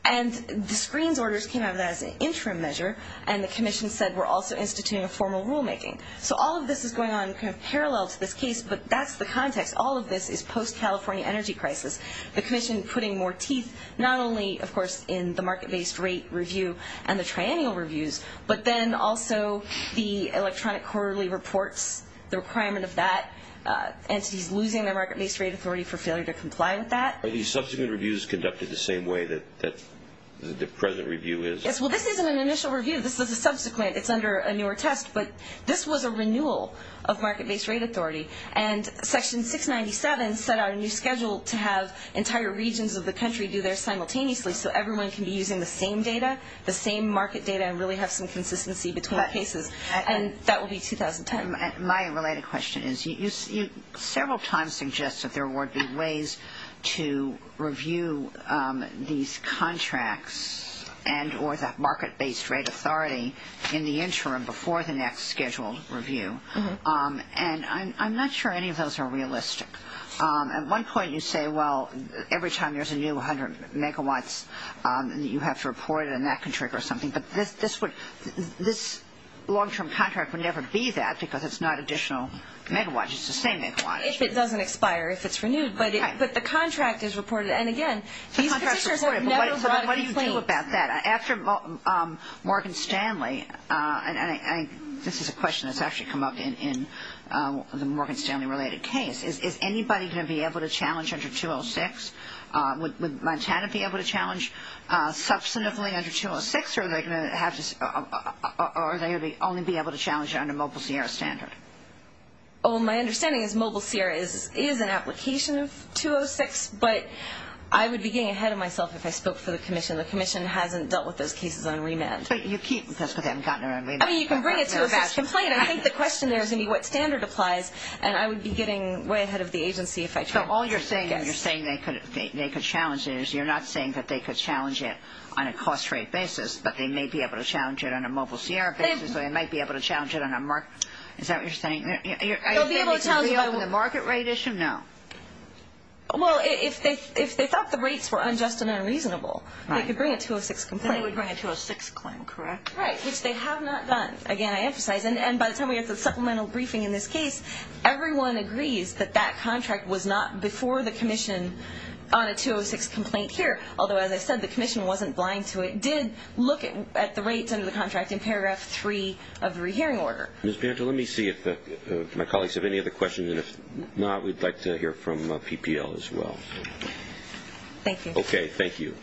And the screenings orders came out of that as an interim measure and the Commission said we're also instituting a formal rulemaking. So all of this kind of parallel to this case but that's the context. All of this is post-California energy crisis. The Commission putting more teeth not only, of course, in the market-based rate review and the tri-annual reviews but then also the electronic quarterly reports the requirement of that entities losing their market-based rate authority for failure to comply with that. Are these subsequent reviews conducted the same way that the present review is? Yes, well this isn't an initial review. This is a subsequent. It's under a newer test but this was a renewal of market-based rate authority and section 697 set out a new schedule to have entire regions of the country do their simultaneously so everyone can be using the same data, the same market data and really have some consistency between cases and that will be 2010. My related question is you several times suggested there would be ways to review these contracts and or the market-based rate authority in the interim before the next scheduled review and I'm not sure any of those are realistic. At one point you say well every time there's a new 100 megawatts you have to report it and that can trigger something but this would this long-term contract would never be that because it's not additional megawatts it's the same megawatts. If it doesn't expire, if it's renewed but the contract is reported and again these positions never have a lot of complaints. What do you do about that? After Morgan Stanley and I think this is a question that's actually come up in the Morgan Stanley related case is anybody going to be able to challenge under 206? Would Montana be able to challenge substantively under 206 or are they only going to be able to challenge under Mobile Sierra standard? Well my understanding is Mobile Sierra is an application of 206 but I would be getting ahead of myself if I spoke for the commission. The commission hasn't dealt with those cases on remand. But you can bring it to a 206 complaint. I think the question there is what standard applies and I would be getting way ahead of the agency. So all you're saying is they could challenge it. You're not saying they could challenge it on a cost rate basis but they may be able to challenge it on a Mobile Sierra basis or they may be able to challenge it on a market rate issue? I don't know. Well if they thought the rates were unjust and unreasonable they could bring a 206 complaint. Then they would bring a 206 complaint correct? Right which they have not done. Again I emphasize and by the time we get to the supplemental briefing in this case everyone agrees that that contract was not before the commission on a 206 complaint here although as I said the commission wasn't blind to it and I would like to hear from PPL as well. Thank you. Okay thank you.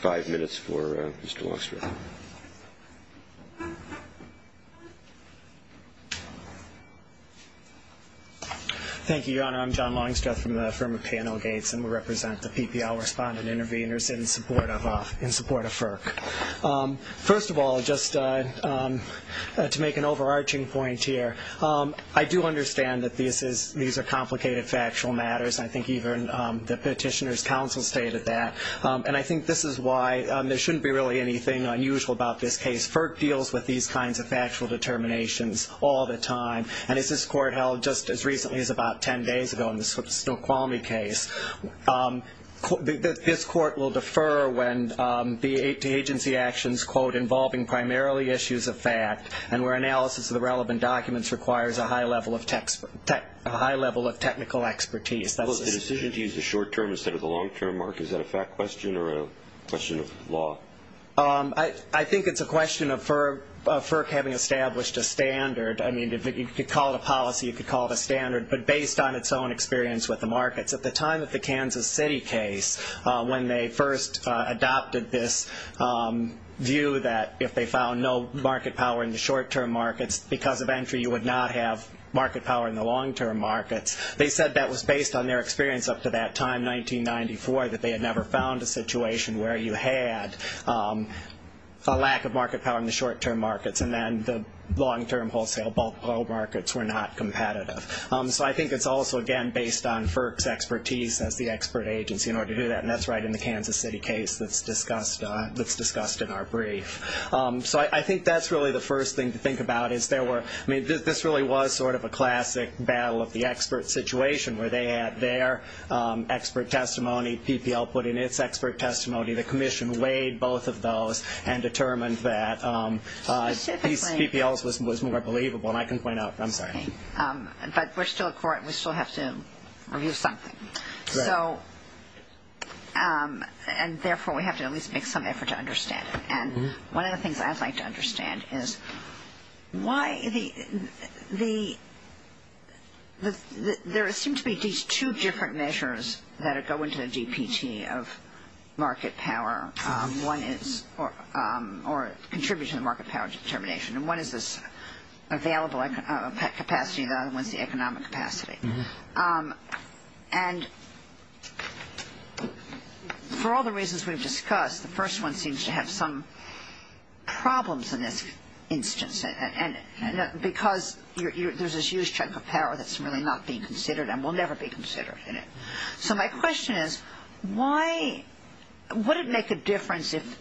Five minutes for Mr. Longstreth. Thank you your Honor. I'm John Longstreth from the firm of P&L Gates and we represent the PPL respondent intervenors in support of FERC. First of all just to make an overarching point here. I do understand that the PPL is a complicated factual matter and I think even the petitioner's counsel stated that and I think this is why there shouldn't be really anything unusual about this case. FERC deals with these kinds of factual determinations all the time and this court held just as recently as about 10 days ago in the Snoqualmie case. This court will defer when the agency actions quote, involving primarily issues of fact and where analysis of the relevant documents requires a high level of technical expertise. Is that a fact question or a question of law? I think it's a question of FERC having established a standard. You could call it a policy or a standard but based on its own experience with the markets. At the time of the Kansas City case when they first adopted this view that if they found no market power in the short term markets because of entry you would not have market power in the long term markets they said that was based on their experience up to that time, 1994, that they would not power in the short term markets. It's also based on FERC's expertise as the expert agency. That's right in the Kansas City case that's discussed in our brief. I think that's the first thing to think about. This was a classic battle of the expert situation where they had their expert testimony, PPL put in its expert testimony, the commission weighed both of those and determined that PPL's was more believable. I can point out, I'm sorry. We still have to review something. So, and therefore we have to at least make some effort to understand it. One of the things I'd like to understand is why the, the, there seem to be these two different measures that go into the DPT of market power. One is, or contributes to the market power determination. One is this available capacity, the other one is the economic capacity. And for all the reasons we've discussed, the first one seems to have some problems in this instance. And because there's this huge chunk of power that's really not being considered and will never be considered. So my question is, why, would it make a difference if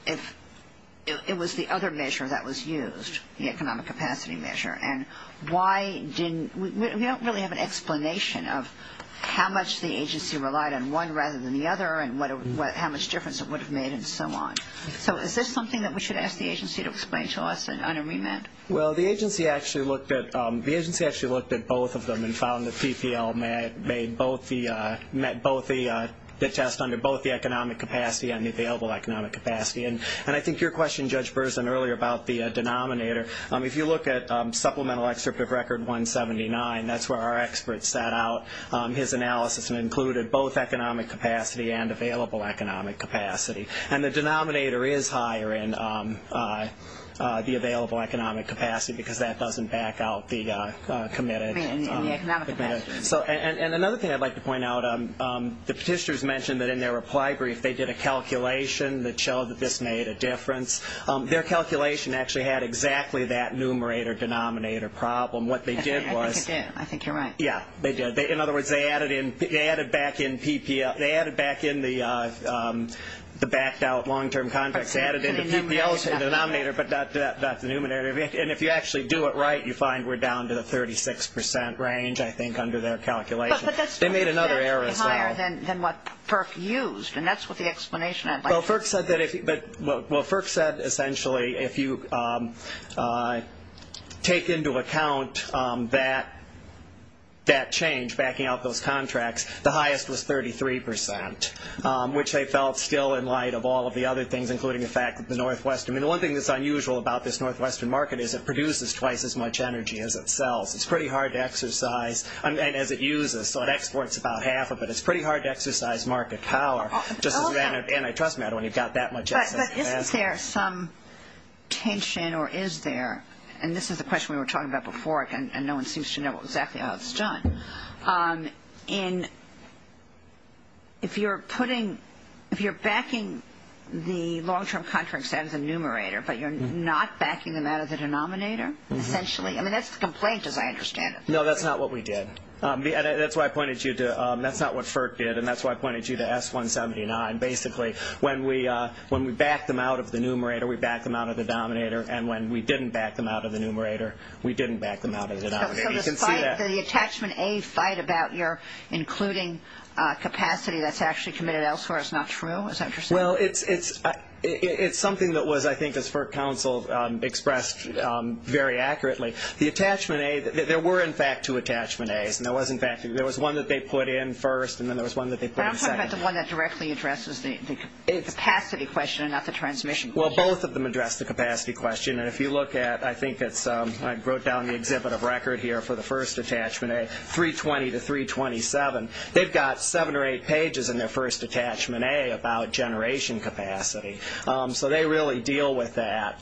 it was the other measure that was used, the economic capacity measure? And why didn't, we don't really have an explanation of how much the agency relied on one rather than the other and how much difference it would have made and so on. So is this something that we should ask the agency to explain to us and under remit? Well, the agency actually looked at both of them and found that PPL met both the test under both the economic capacity and the available economic capacity. And I think your question, Judge Burson, earlier about the denominator, if you look at supplemental record 179, that's where our experts sat out his analysis and included both economic capacity and available economic capacity. And the denominator is higher in the available economic capacity because that doesn't back out the committed. And another thing I'd like to point out, the petitioners mentioned that in their reply brief they did a calculation that showed that this made a difference. Their calculation actually had exactly that numerator denominator problem. What they did was... I think you're right. Yeah, they did. In other words, they added back in the backed out long-term contracts, added in the PPL denominator, but not the numerator. And if you actually do it right, you find we're down to the 36 percent range, I think, under their calculation. But that's actually higher than what FERC used. And that's what the explanation... Well, FERC said essentially if you take into account that change, backing out those contracts, the highest was 33 percent, which they felt still in light of all of the other things, including the fact that the Northwestern... I mean, the one thing that's unusual about this Northwestern market is it produces twice as much energy as it sells. It's pretty hard to exercise, and as it uses, so it exports about half of it. It's pretty hard to exercise market power, just as an antitrust matter when you've got that much... But isn't there some tension, or is there? And this is the question we were talking about before and no one seems to know exactly how it's done. And if you're putting... If you're backing the long-term contracts out of the numerator, but you're not backing them out of the denominator, essentially... I mean, that's the complaint, as I understand it. No, that's not what we did. That's why I pointed you to... That's not what FERC did, and that's why I pointed you to S-179. Basically, when we back them out of the numerator, we back them out of the denominator, and when we didn't back them out of the numerator, we didn't back them out of the denominator. So the attachment A fight about your including capacity that's actually committed elsewhere is not something that FERC Council expressed very accurately. The attachment A... There were, in fact, two attachment As, and there was one that they put in first, and then there was one that they put in second. I'm talking about the one that directly addresses the capacity question and not the transmission question. Well, both of them address the capacity question, and if you look at... I think it's... I wrote down the exhibit of record here for the first attachment A, 320-327. They've got seven or eight pages in their first attachment A about generation capacity. So they really deal with that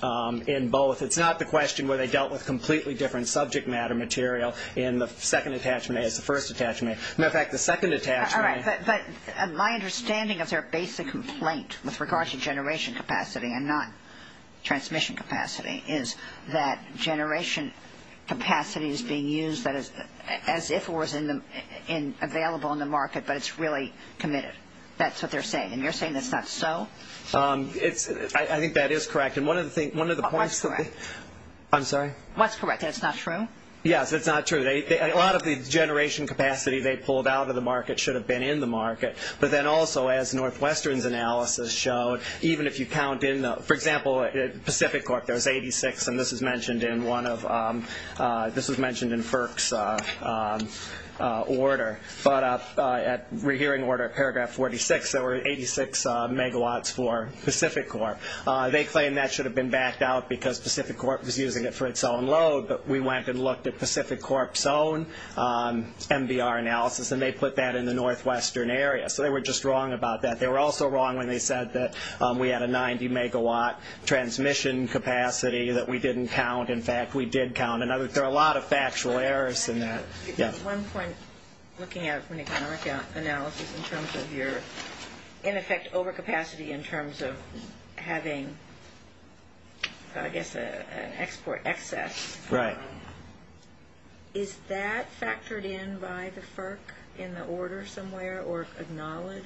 in both. It's not the question where they dealt with completely different subject matter material in the second attachment A as the first attachment A. As a matter of fact, the second attachment... All right, but my understanding of their basic complaint with regards to generation capacity and not transmission capacity is that generation capacity is being used as if or is available in the market, but it's really committed. That's what they're saying. And you're saying that's not so? I think that is correct. And one of the points... What's correct? I'm sorry? What's correct? That it's not true? Yes, it's not true. A lot of the generation capacity they pulled out of the market should have been in the market, but then also, as Northwestern's analysis showed, even if you count in the... For example, Pacific Corp, there's 86, and this is mentioned in one of... This was mentioned in FERC's order. But at rehearing order paragraph 46, there were 86 megawatts for Pacific Corp. They claim that should have been backed out because Pacific Corp was using it for its own load, but we went and looked at Pacific Corp's own MBR analysis, and they put that in the Northwestern area. So they were just wrong about that. They were also wrong when they said that we had a 90 megawatt transmission capacity that we didn't count. In fact, we did count. There are a lot of factual errors in that. You got one point looking at an economic analysis in terms of your, in effect, overcapacity in terms of having, I guess, an export excess. Right. Is that factored in by the FERC somewhere, or acknowledged?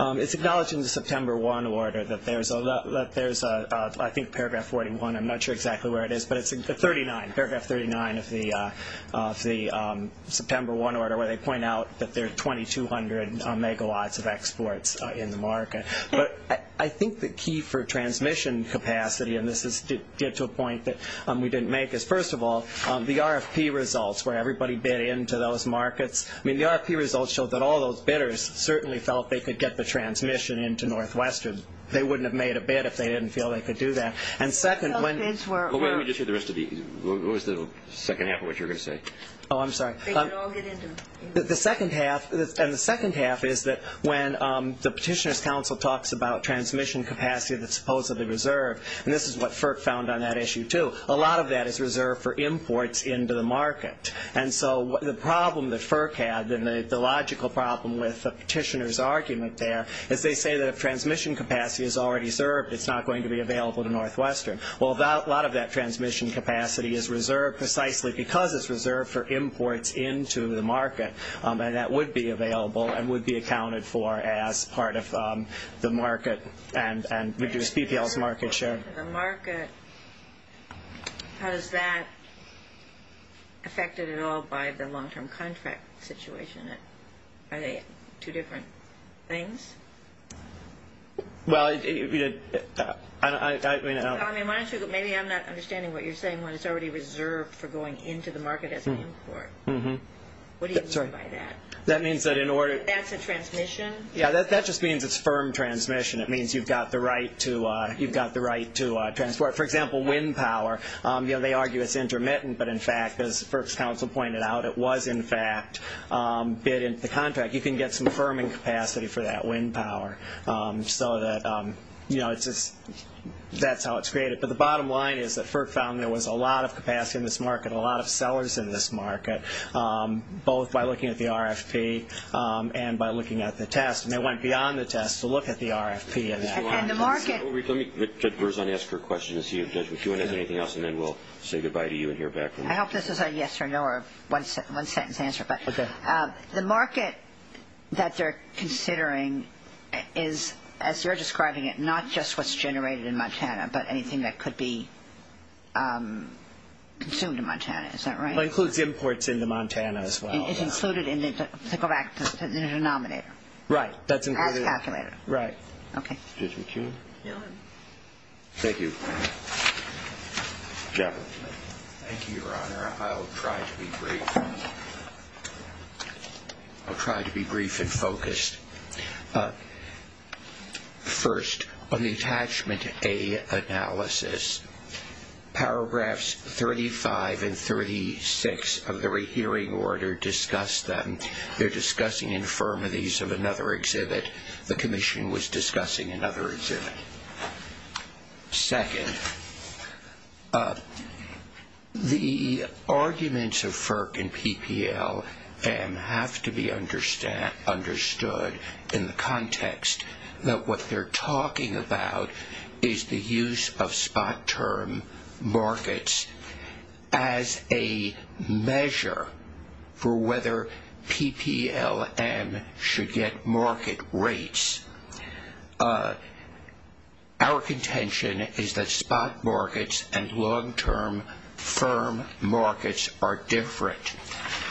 It's acknowledged in the September 1 order that there's a, I think, paragraph 46. It's not acknowledged in the September 1. I'm not sure exactly where it is, but it's in paragraph 39 of the September 1 order where they point out that there are 2,200 megawatts of exports in the market. But I think the key for transmission capacity, and this is to get to a point that we didn't make, is first of all, the RFP results where everybody bid into those markets, I mean, the RFP results showed that all those bidders certainly felt they could get the transmission into the market. I mean, if they were in the Northwestern, they wouldn't have made a bid if they didn't feel they could do that. And second when the petitioner's council talks about transmission capacity that's supposedly reserved, and this is what FERC found on that issue too, a lot of that is reserved for imports into the market. And so the problem that FERC had, and the logical problem with the petitioner's argument there, is they say that if transmission capacity is already served, it's not going to be available to Northwestern. Well, a lot of that transmission capacity is reserved precisely because it's reserved for imports into the market. And that would be available and would be accounted for as part of the market and would reduce BPL's market share. The market, has that affected at all by the long-term contract situation? Are they two different things? Well, I mean, I don't know. I mean, why don't you, maybe I'm not understanding what you're saying when it's already reserved for going into the market as an import. What do you mean by that? That's a transmission? Yeah, that just means it's firm transmission. It means you've got the right to transport. For example, wind power, they argue it's intermittent, but in fact, as FERC's council pointed out, it was in fact bid into the contract. You can get some firming capacity for that wind power. So that, you know, that's how it's created. But the bottom line is that FERC found there was a lot of capacity in this market, a lot of sellers in this market, both by looking at the RFP and by looking at the test. And they went beyond the test to look at the RFP and that. And the market Let me ask her question and see if you want to add anything else and then we'll say goodbye to you and hear from you. But the market that they're considering is, as you're describing it, not just what's generated in Montana, but anything that could be consumed in Montana. Is that right? It includes imports into Montana as well. It's included in the denominator. Right. That's included. As calculated. Right. Okay. Thank you. Jeff. Thank you, Your Honor. I'll try to be brief and focused. First, on the attachment A analysis, paragraphs 35 and 36 of the rehearing order discuss them. another exhibit. The commission was discussing another exhibit. Second, the arguments of FERPA are very clear. They are not in the context that what they're talking about is the use of spot term markets as a measure for whether PPLM should get market rates. Our contention is that spot markets and long-term firm markets are different.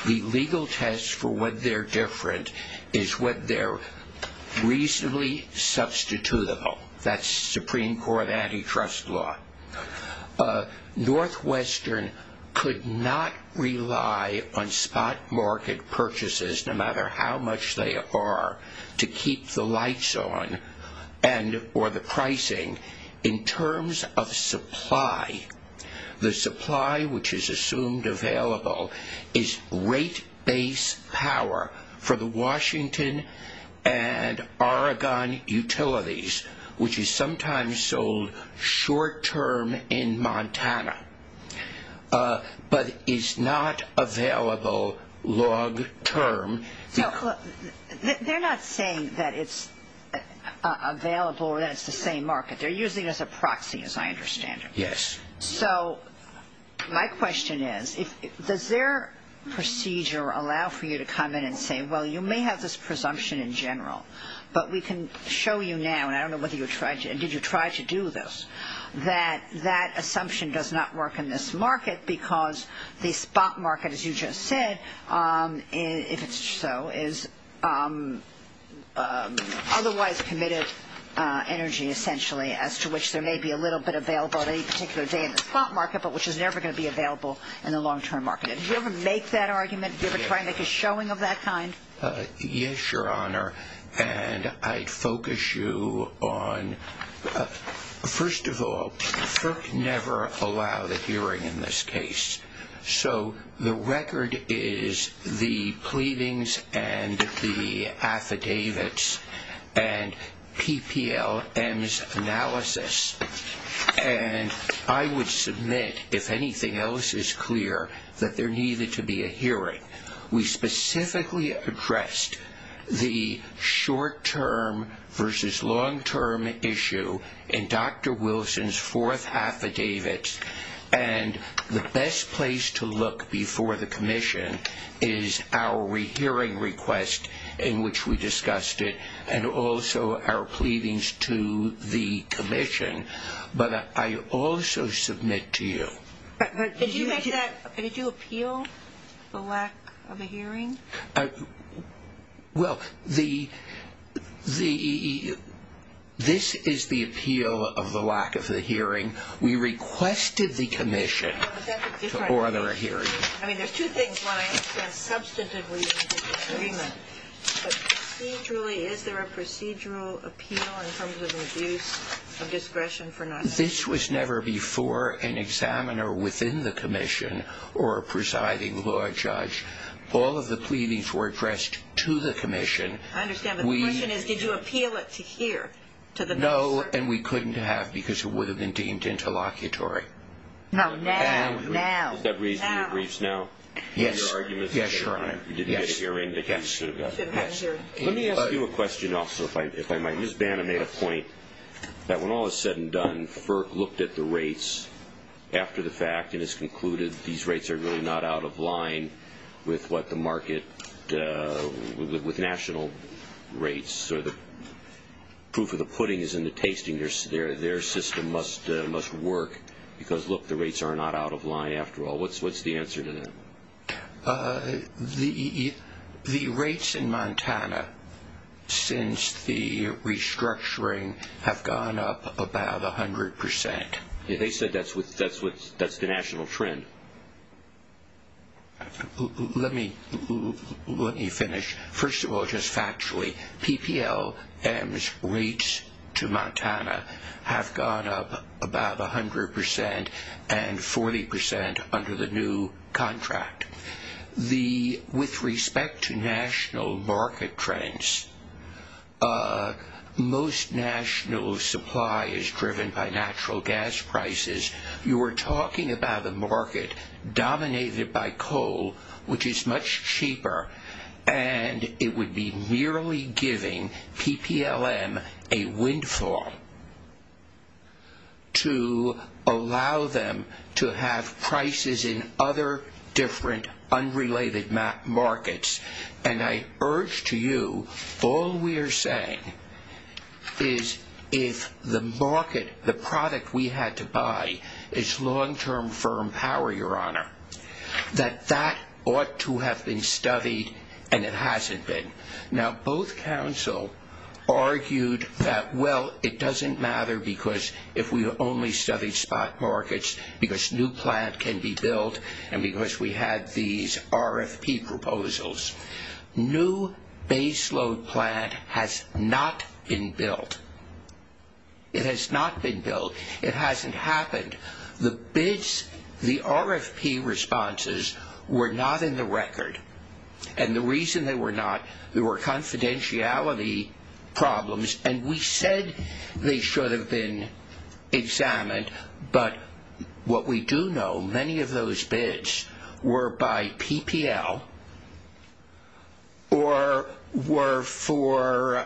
The legal test for what they're different is what they're reasonably substitutable. That's Supreme Court antitrust law. Northwestern could not rely on spot market purchases no matter how much they are to keep the lights on and or the pricing in terms of supply. The supply, which is rate-based power for the Washington and Oregon utilities, which is sometimes sold short-term in Montana, but is not available long-term. They're not saying that it's available and it's the same market. They're using it as a proxy, as I understand it. Yes. So my question is, does their procedure allow for you to come in and say, well, you may have this presumption in general, but we can show you now, and I don't know whether you tried to, did you try to do this, that that assumption does not work in this market because the spot market, as you just said, if it's so, is otherwise committed energy, essentially, as to which there may be a little bit available on any particular day in the spot market, but which is never going to be available in the long-term market. Did you ever make that argument? Did you ever try to make a showing of that kind? Yes, Your Honor, and I'd like to the next hearing, which is the pleadings and the affidavits and PPLM's analysis, and I would submit, if anything else is clear, that there needed to be a hearing. We specifically addressed the short-term versus long-term issue in Dr. Wilson's fourth affidavit, and the best place to look before the commission is our hearing request in which we discussed it, and also our pleadings to the commission, but I also submit to you. Did you appeal the lack of a hearing? Well, the the this is the appeal of the lack of the hearing. We requested the commission to order a hearing. I mean, there's two things. One, I understand substantive reasons for the agreement, but procedurally, is there a procedural appeal in terms of the use of discretion for not hearing? This was never before an examiner within the commission, or a presiding law judge. All of the pleadings were addressed to the commission. I understand, but the question is, did you appeal it to here, to the commission? No, and we couldn't have because it would have been deemed interlocutory. Now, now, now, now. Yes, yes, Your Honor. Let me ask you a question also. Ms. Bannon made a point that when all is said and done, FERC looked at the rates after the fact and concluded the rates are out of line with national rates. Their system Moscow work because the rates are not out of line after all. What's the answer to that? The rates in Montana since the restructuring have gone up about 100 percent. They said that's the national trend. Let me finish. First of all, just factually, PPLM's rates to Montana have gone up about 100 percent and 40 percent under the new contract. With respect to national market trends, most national supply is driven by natural gas prices. You were talking about a market dominated by coal which is much cheaper and it would be merely giving PPLM a windfall to allow them to have prices in other different unrelated markets. And I urge to you, all we are saying is if the market, the product we had to buy is long-term firm power, Your Honor, that that ought to have been studied and it hasn't been. Now, both councils argued that well, it doesn't matter because if we only studied spot markets because new plant can be built and because we had these RFP proposals. New baseload plant has not been built. It has not been built. It hasn't happened. The bids, the RFP responses were not in the record. And the reason they were not, there were confidentiality problems and we said they should have been examined, but what we do know, many of those bids were by PPL or were for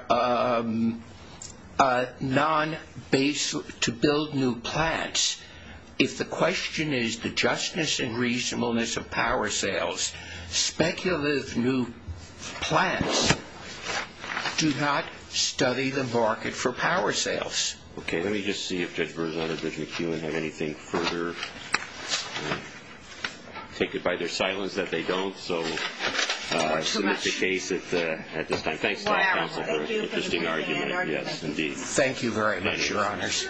non-baseload to build If the question is the justice and reasonableness of power sales, speculative new plants do not study the market and the product and the market for power sales. Thank you very much, Your Honors.